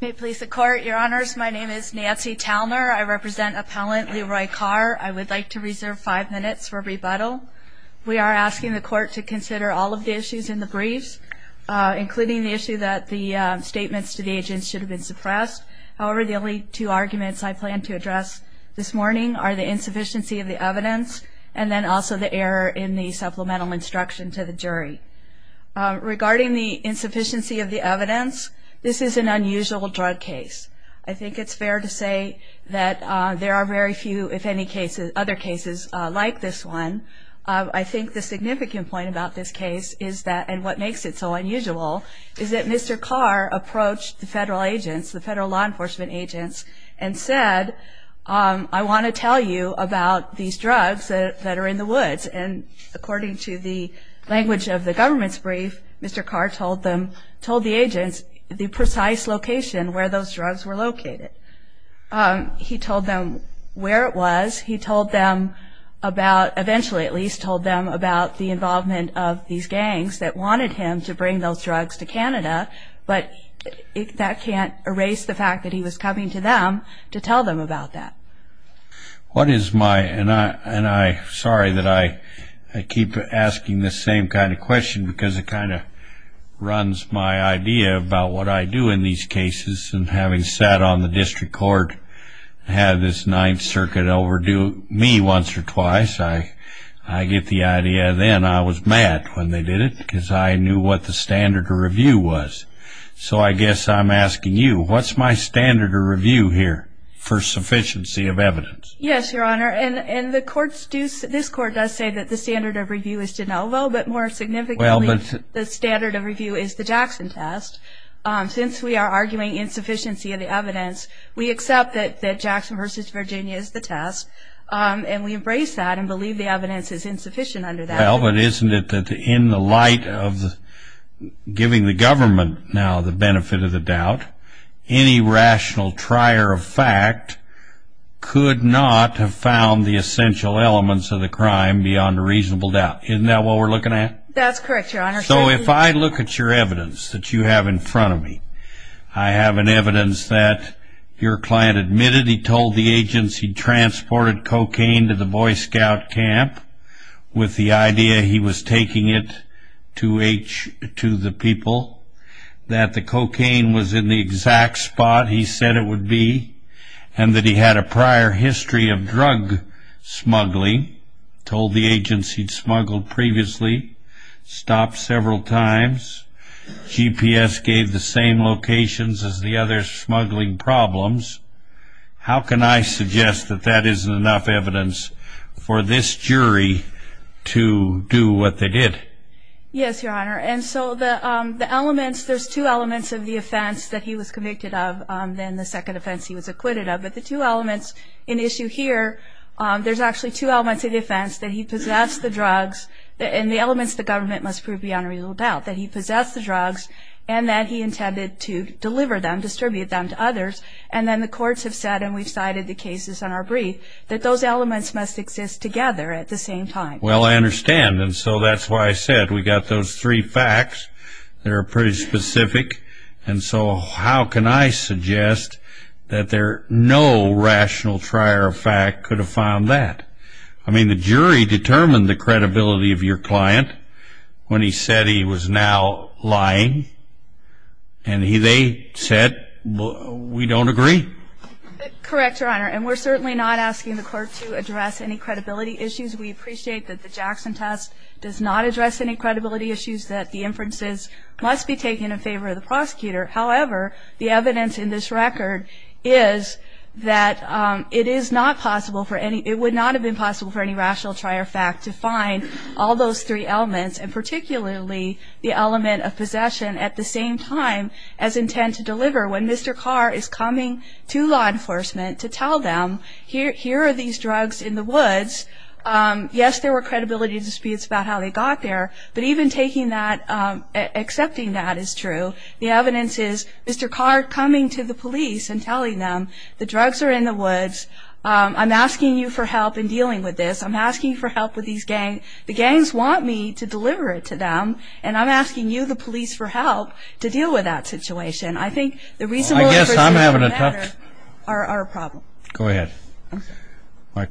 May it please the court, your honors, my name is Nancy Talmer. I represent appellant Leroy Carr. I would like to reserve five minutes for rebuttal. We are asking the court to consider all of the issues in the briefs, including the issue that the statements to the agents should have been suppressed. However, the only two arguments I plan to address this morning are the insufficiency of the evidence and then also the error in the supplemental instruction to the jury. Regarding the insufficiency of the evidence, this is an unusual drug case. I think it's fair to say that there are very few, if any, other cases like this one. I think the significant point about this case is that, and what makes it so unusual, is that Mr. Carr approached the federal agents, the federal law enforcement agents, and said, I want to tell you about these drugs that are in the woods. And according to the language of the government's brief, Mr. Carr told the agents the precise location where those drugs were located. He told them where it was. He told them about, eventually at least, told them about the involvement of these agents and what he was having to them to tell them about that. I'm sorry that I keep asking the same kind of question because it kind of runs my idea about what I do in these cases. And having sat on the district court and had this Ninth Circuit overdo me once or twice, I get the idea then I was mad when they did it because I knew what the standard of review was. So I guess I'm asking you, what's my standard of review here for sufficiency of evidence? Yes, Your Honor, and this court does say that the standard of review is de novo, but more significantly, the standard of review is the Jackson test. Since we are And we embrace that and believe the evidence is insufficient under that. Well, but isn't it that in the light of giving the government now the benefit of the doubt, any rational trier of fact could not have found the essential elements of the crime beyond a reasonable doubt. Isn't that what we're looking at? That's correct, Your Honor. So if I look at your evidence that you have in front of me, I have an evidence that your client admitted he told the agency transported cocaine to the Boy Scout camp with the idea he was taking it to the people, that the cocaine was in the exact spot he said it would be, and that he had a prior history of drug smuggling, told the agency smuggled previously, stopped several times, GPS gave the same locations as the other smuggling problems. How can I suggest that that isn't enough evidence for this jury to do what they did? Yes, Your Honor, and so the elements, there's two elements of the offense that he was convicted of, then the second offense he was acquitted of, but the two elements in issue here, there's actually two elements of the offense that he possessed the drugs, and the elements the government must prove beyond a reasonable doubt, that he possessed the drugs and that he intended to deliver them, distribute them to others, and then the courts have said, and we've cited the cases in our brief, that those elements must exist together at the same time. Well, I understand, and so that's why I said we've got those three facts, they're pretty specific, and so how can I suggest that no rational trier of fact could have found that? I mean, the jury determined the credibility of your client when he said he was now lying, and they said, we don't agree. Correct, Your Honor, and we're certainly not asking the court to address any credibility issues. We appreciate that the Jackson test does not address any credibility issues, that the inferences must be taken in favor of the prosecutor. However, the evidence in this record is that it is not possible for any, it would not have been possible for any rational trier of fact to find all those three elements, and particularly the element of possession at the same time as intent to deliver when Mr. Carr is coming to law enforcement to tell them, here are these drugs in the woods. Yes, there were credibility disputes about how they got there, but even taking that, accepting that is true. The evidence is, Mr. Carr coming to the police and telling them, the drugs are in the woods, I'm asking you for help in dealing with this, I'm asking you for help with these gangs, the gangs want me to deliver it to them, and I'm asking you, the police, for help to deal with that situation. I think the reasonable inferences from that are a problem. Go ahead. I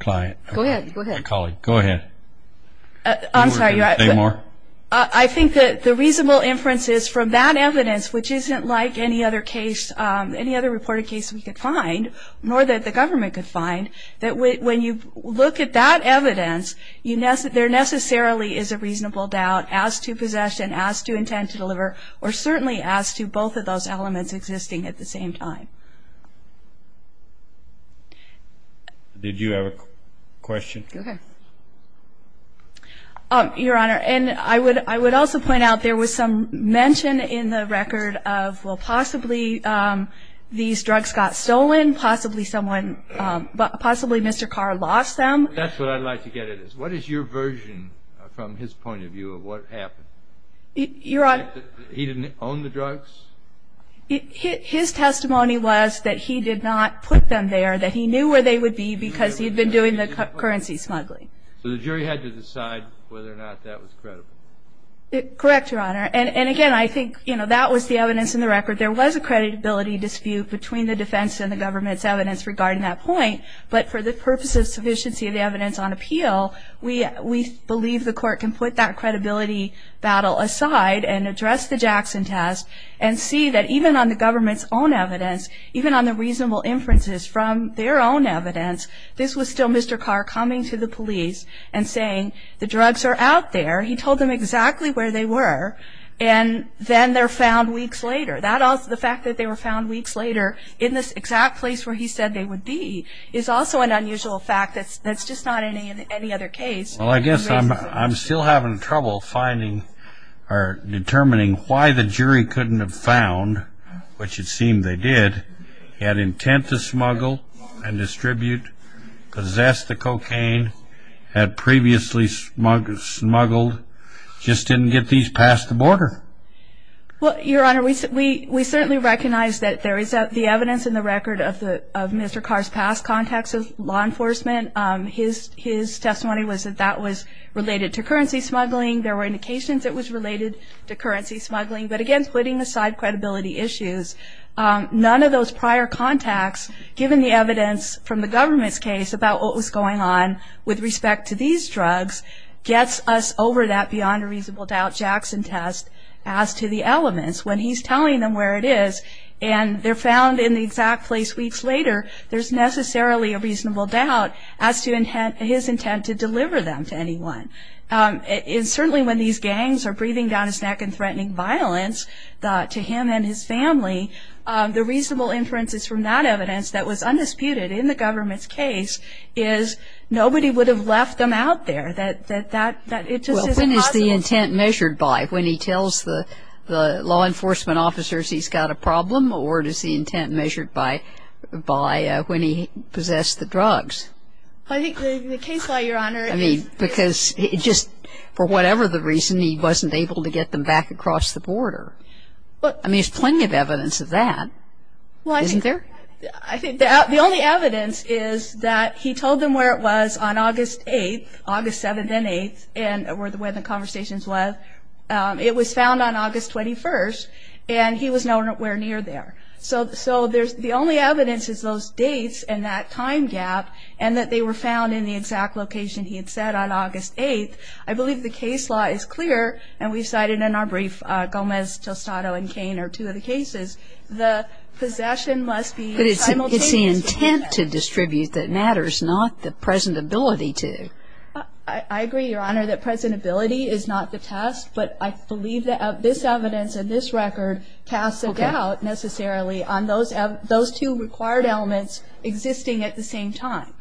think that the reasonable inferences from that evidence, which isn't like any other case, any other reported case we could find, nor that the government could find, that when you look at that evidence, there necessarily is a reasonable doubt as to possession, as to intent to deliver, or certainly as to both of those Did you have a question? Go ahead. Your Honor, and I would also point out there was some mention in the record of, well, possibly these drugs got stolen, possibly someone, possibly Mr. Carr lost them. That's what I'd like to get at is, what is your version from his point of view of what happened? Your Honor. He didn't own the drugs? His testimony was that he did not put them there, that he knew where they would be because he'd been doing the currency smuggling. So the jury had to decide whether or not that was credible? Correct, Your Honor. And again, I think that was the evidence in the record. There was a credibility dispute between the defense and the government's evidence regarding that point, but for the purpose of sufficiency of the evidence on appeal, we believe the court can put that credibility battle aside and address the Jackson test and see that even on the government's own evidence, even on the reasonable inferences from their own evidence, this was still Mr. Carr coming to the police and saying, the drugs are out there. He told them exactly where they were, and then they're found weeks later. The fact that they were found weeks later in this exact place where he said they would be is also an unusual fact that's just not in any other case. Well, I guess I'm still having trouble finding or determining why the jury couldn't have found, which it seemed they did, had intent to smuggle and distribute, possessed the cocaine, had previously smuggled, just didn't get these past the border. Well, Your Honor, we certainly recognize that there is the evidence in the record of Mr. Carr's past contacts with law enforcement. His testimony was that that was related to currency smuggling. There were indications it was related to currency smuggling. But again, putting aside credibility issues, none of those prior contacts, given the evidence from the government's case about what was going on with respect to these drugs, gets us over that beyond a reasonable doubt as to the elements. When he's telling them where it is, and they're found in the exact place weeks later, there's necessarily a reasonable doubt as to his intent to deliver them to anyone. Certainly when these gangs are breathing down his neck and threatening violence to him and his family, the reasonable inferences from that evidence that was undisputed in the government's case is nobody would have left them out there. That it just isn't possible. Well, when is the intent measured by? When he tells the law enforcement officers he's got a problem, or is the intent measured by when he possessed the drugs? I think the case law, Your Honor, is... I mean, because just for whatever the reason, he wasn't able to get them back across the border. I mean, there's plenty of evidence of that. Well, I think... Isn't there? I think the only evidence is that he told them where it was on August 8th, August 7th and 8th, were the way the conversations were. It was found on August 21st, and he was nowhere near there. So the only evidence is those dates and that time gap, and that they were found in the exact location he had said on August 8th. I believe the case law is clear, and we've cited in our brief, Gomez, Tostado, and Cain are two of the cases. The possession must be simultaneously... But it's the intent to distribute that matters, not the present ability to. I agree, Your Honor, that present ability is not the test, but I believe that this evidence and this record casts a doubt necessarily on those two required elements existing at the same time.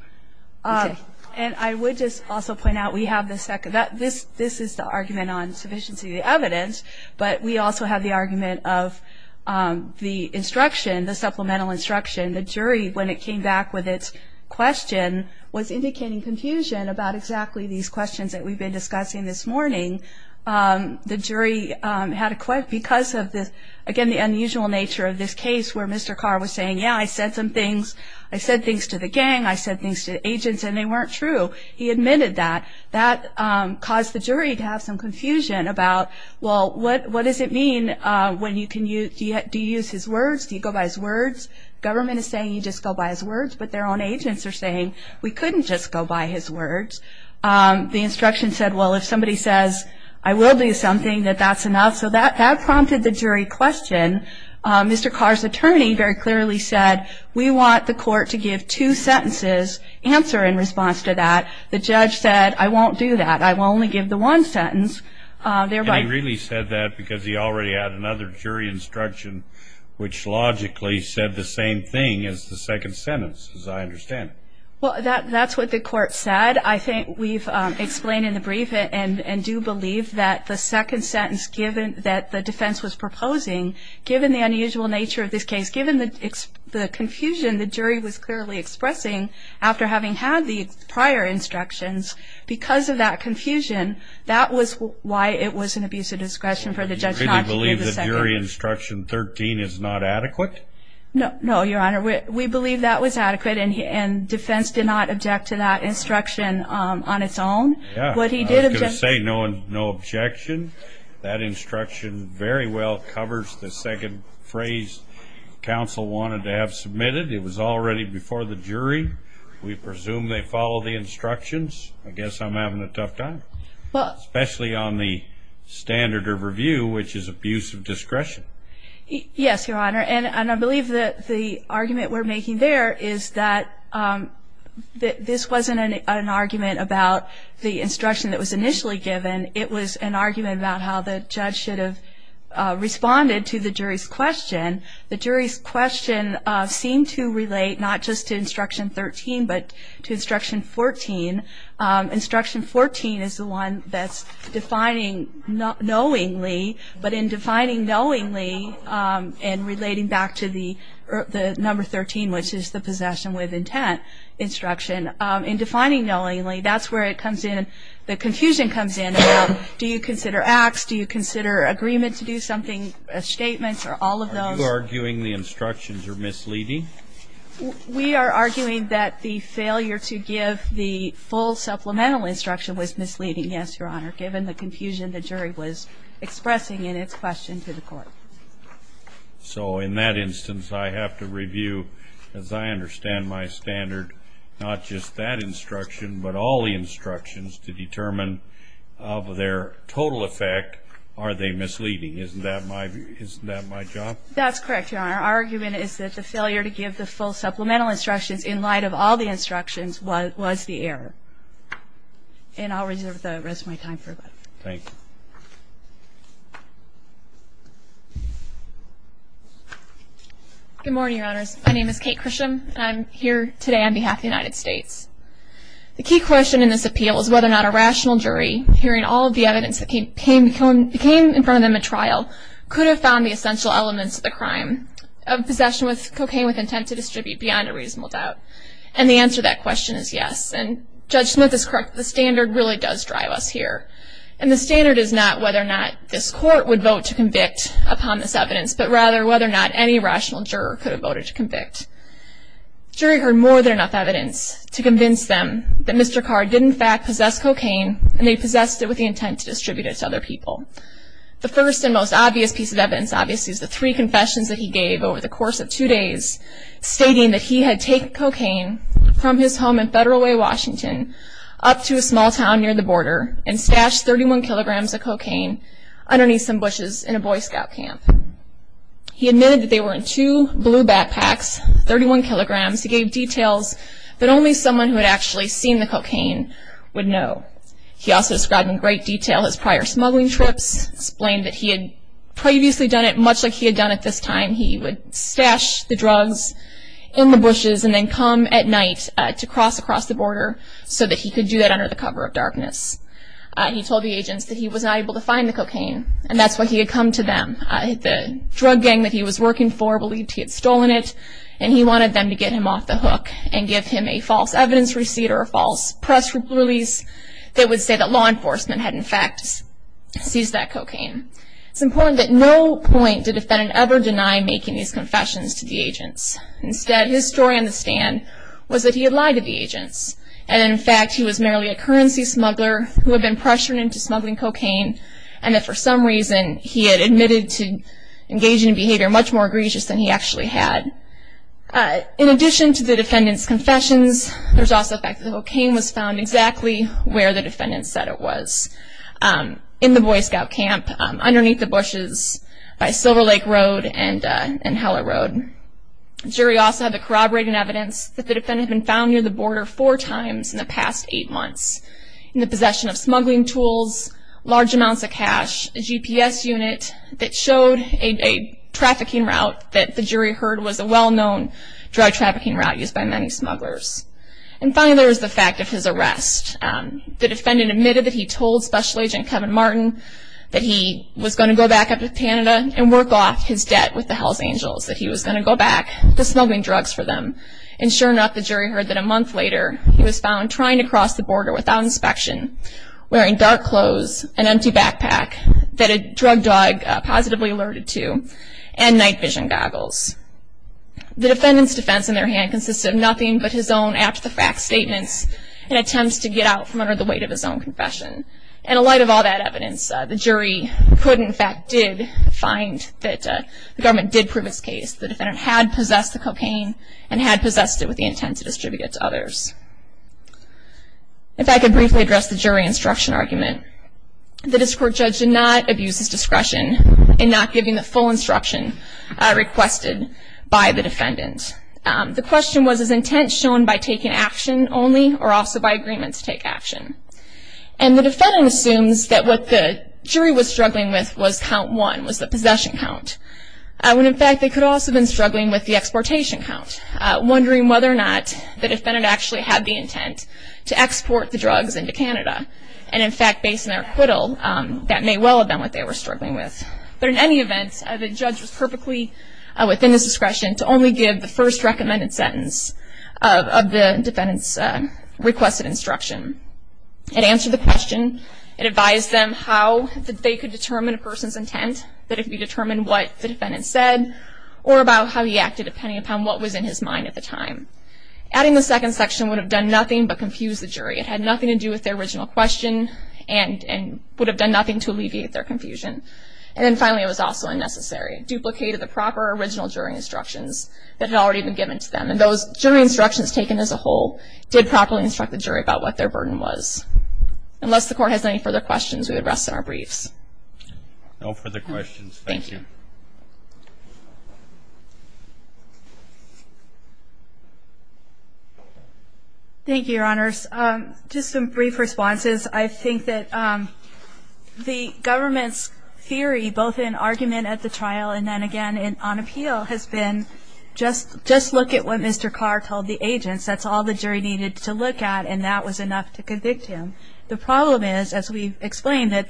Okay. And I would just also point out we have the second... This is the argument on sufficiency of the evidence, but we also have the argument of the instruction, the supplemental instruction. The jury, when it came back with its question, was indicating confusion about exactly these questions that we've been discussing this morning. The jury had a... Because of this, again, the unusual nature of this case where Mr. Carr was saying, yeah, I said things to the gang, I said things to the agents, and they weren't true. He admitted that. That caused the jury to have some confusion about, well, what does it mean when you can use... Do you use his words? Do you go by his words? Government is saying you just go by his words, but their own agents are saying we couldn't just go by his words. The instruction said, well, if somebody says, I will do something, that that's enough. So that prompted the jury question. Mr. Carr's attorney very clearly said, we want the court to give two sentences, answer in response to that. The judge said, I won't do that. I will only give the one sentence, thereby... And he really said that because he already had another jury instruction, which logically said the same thing as the second sentence, as I understand it. Well, that's what the court said. I think we've explained in the brief and do believe that the second sentence that the defense was proposing, given the unusual nature of this case, given the confusion the jury was clearly expressing after having had the prior instructions, because of that confusion, that was why it was an abuse of discretion for the judge not to give the second... So you really believe the jury instruction 13 is not adequate? No, Your Honor. We believe that was adequate and defense did not object to that instruction on its own. Yeah, I was going to say, no objection. That instruction very well covers the second phrase counsel wanted to have submitted. It was already before the jury. We presume they follow the instructions. I guess I'm having a tough time. Well... Especially on the standard of review, which is abuse of discretion. Yes, Your Honor. And I believe that the argument we're making there is that this wasn't an argument about the instruction that was initially given. It was an argument about how the judge should have responded to the jury's question. The jury's question seemed to relate not just to instruction and relating back to the number 13, which is the possession with intent instruction. In defining knowingly, that's where it comes in, the confusion comes in about do you consider acts, do you consider agreement to do something, statements, or all of those? Are you arguing the instructions are misleading? We are arguing that the failure to give the full supplemental instruction was misleading, yes, Your Honor, given the confusion the jury was expressing in its question to the court. So in that instance, I have to review, as I understand my standard, not just that instruction, but all the instructions to determine of their total effect, are they misleading? Isn't that my job? That's correct, Your Honor. Our argument is that the failure to give the full supplemental instructions in light of all the instructions was the error. And I'll reserve the rest of my time for that. Thank you. Good morning, Your Honors. My name is Kate Chrisham, and I'm here today on behalf of the United States. The key question in this appeal is whether or not a rational jury, hearing all of the evidence that came in front of them at trial, could have found the essential elements of the crime of possession with cocaine with intent to distribute beyond a reasonable doubt. And the answer to that question is yes, and Judge Smith is correct, the standard really does drive us here. And the standard is not whether or not this court would vote to convict upon this evidence, but rather whether or not any rational juror could have voted to convict. The jury heard more than enough evidence to convince them that Mr. Carr did, in fact, possess cocaine, and they possessed it with the intent to distribute it to other people. The first and most obvious piece of evidence, obviously, is the three confessions that he gave over the course of two days, stating that he had taken cocaine from his home in Federal Way, Washington, up to a small town near the border, and stashed 31 kilograms of cocaine underneath some bushes in a Boy Scout camp. He admitted that they were in two blue backpacks, 31 kilograms. He gave details that only someone who had actually seen the cocaine would know. He also described in great detail his prior smuggling trips, explained that he had previously done it much like he had done it this time. He would stash the drugs in the bushes and then come at night to cross across the border so that he could do that under the cover of darkness. He told the agents that he was not able to find the cocaine, and that's why he had come to them. The drug gang that he was working for believed he had stolen it, and he wanted them to get him off the hook and give him a false evidence receipt or a false press release that would say that law enforcement had, in fact, seized that cocaine. It's important at no point did the defendant ever deny making these confessions to the agents. Instead, his story on the stand was that he had lied to the agents, and in fact he was merely a currency smuggler who had been pressured into smuggling cocaine, and that for some reason he had admitted to engaging in behavior much more egregious than he actually had. In addition to the defendant's confessions, there's also the fact that the cocaine was found exactly where the defendant said it was, in the Boy Scout camp underneath the bushes by Silver Lake Road and Heller Road. The jury also had the corroborating evidence that the defendant had been found near the border four times in the past eight months in the possession of smuggling tools, large amounts of cash, a GPS unit that showed a trafficking route that the jury heard was a well-known drug trafficking route used by many smugglers. And finally, there was the fact of his arrest. The defendant admitted that he told Special Agent Kevin Martin that he was going to go back up to Canada and work off his debt with the Hells Angels, that he was going to go back to smuggling drugs for them. And sure enough, the jury heard that a month later he was found trying to cross the border without inspection, wearing dark clothes, an empty backpack that a drug dog positively alerted to, and night vision goggles. The defendant's defense in their hand consisted of nothing but his own apt-to-fact statements and attempts to get out from under the weight of his own confession. And in light of all that evidence, the jury could, in fact, did find that the government did prove his case. The defendant had possessed the cocaine and had possessed it with the intent to distribute it to others. If I could briefly address the jury instruction argument, the district court judge did not abuse his discretion in not giving the full instruction requested by the defendant. The question was, is intent shown by taking action only or also by agreement to take action? And the defendant assumes that what the jury was struggling with was count one, was the possession count. When in fact, they could also have been struggling with the exportation count, wondering whether or not the defendant actually had the intent to export the drugs into Canada. And in fact, based on their acquittal, that may well have been what they were struggling with. But in any event, the judge was perfectly within his discretion to only give the first recommended sentence of the defendant's requested instruction. It answered the question, it advised them how they could determine a person's intent, that if you determine what the defendant said or about how he acted, depending upon what was in his mind at the time. Adding the second section would have done nothing but confuse the jury. It had nothing to do with their original question and would have done nothing to alleviate their confusion. And then finally, it was also unnecessary. It duplicated the proper original jury instructions that had already been given to them. And those jury instructions taken as a whole did properly instruct the jury about what their burden was. Unless the court has any further questions, we would rest on our briefs. No further questions. Thank you. Thank you. Thank you, Your Honors. Just some brief responses. I think that the government's theory, both in argument at the trial and then again on appeal, has been just look at what Mr. Carr told the agents. That's all the jury needed to look at, and that was enough to convict him. The problem is, as we explained, that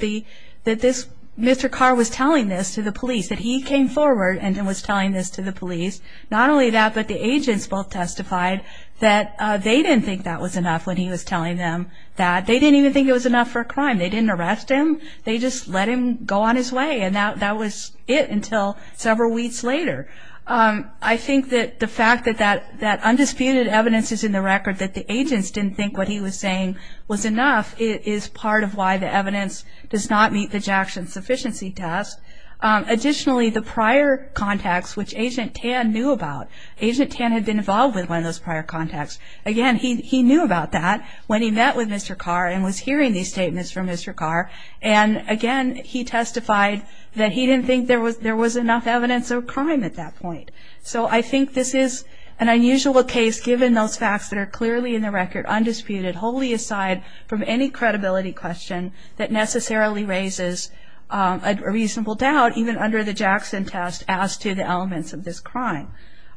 Mr. Carr was telling this to the police, that he came forward and was telling this to the police. Not only that, but the agents both testified that they didn't think that was enough when he was telling them that. They didn't even think it was enough for a crime. They didn't arrest him. They just let him go on his way, and that was it until several weeks later. I think that the fact that that undisputed evidence is in the record, that the agents didn't think what he was saying was enough, is part of why the evidence does not meet the Jackson sufficiency test. Additionally, the prior contacts, which Agent Tan knew about, Agent Tan had been involved with one of those prior contacts. Again, he knew about that when he met with Mr. Carr and was hearing these statements from Mr. Carr, and again he testified that he didn't think there was enough evidence of a crime at that point. So I think this is an unusual case given those facts that are clearly in the record, undisputed, wholly aside from any credibility question that necessarily raises a reasonable doubt, even under the Jackson test, as to the elements of this crime.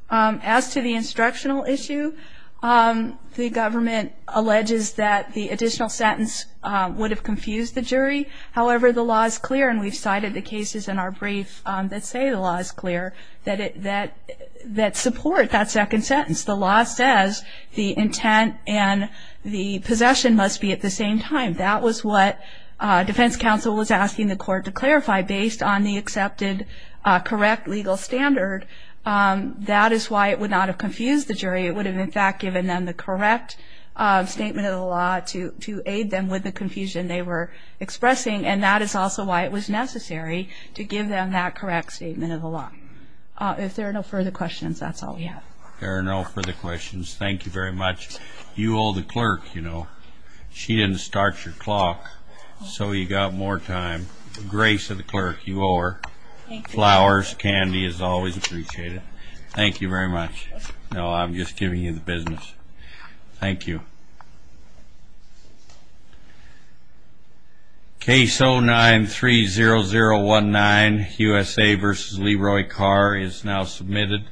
As to the instructional issue, the government alleges that the additional sentence would have confused the jury. However, the law is clear, and we've cited the cases in our brief that say the law is clear, that support that second sentence. The law says the intent and the possession must be at the same time. That was what defense counsel was asking the court to clarify, based on the accepted correct legal standard. That is why it would not have confused the jury. It would have, in fact, given them the correct statement of the law to aid them with the confusion they were expressing, and that is also why it was necessary to give them that correct statement of the law. If there are no further questions, that's all we have. There are no further questions. Thank you very much. You owe the clerk, you know. She didn't start your clock, so you got more time. Grace of the clerk, you owe her. Flowers, candy is always appreciated. Thank you very much. No, I'm just giving you the business. Thank you. Case 09-30019, USA v. Leroy Carr, is now submitted.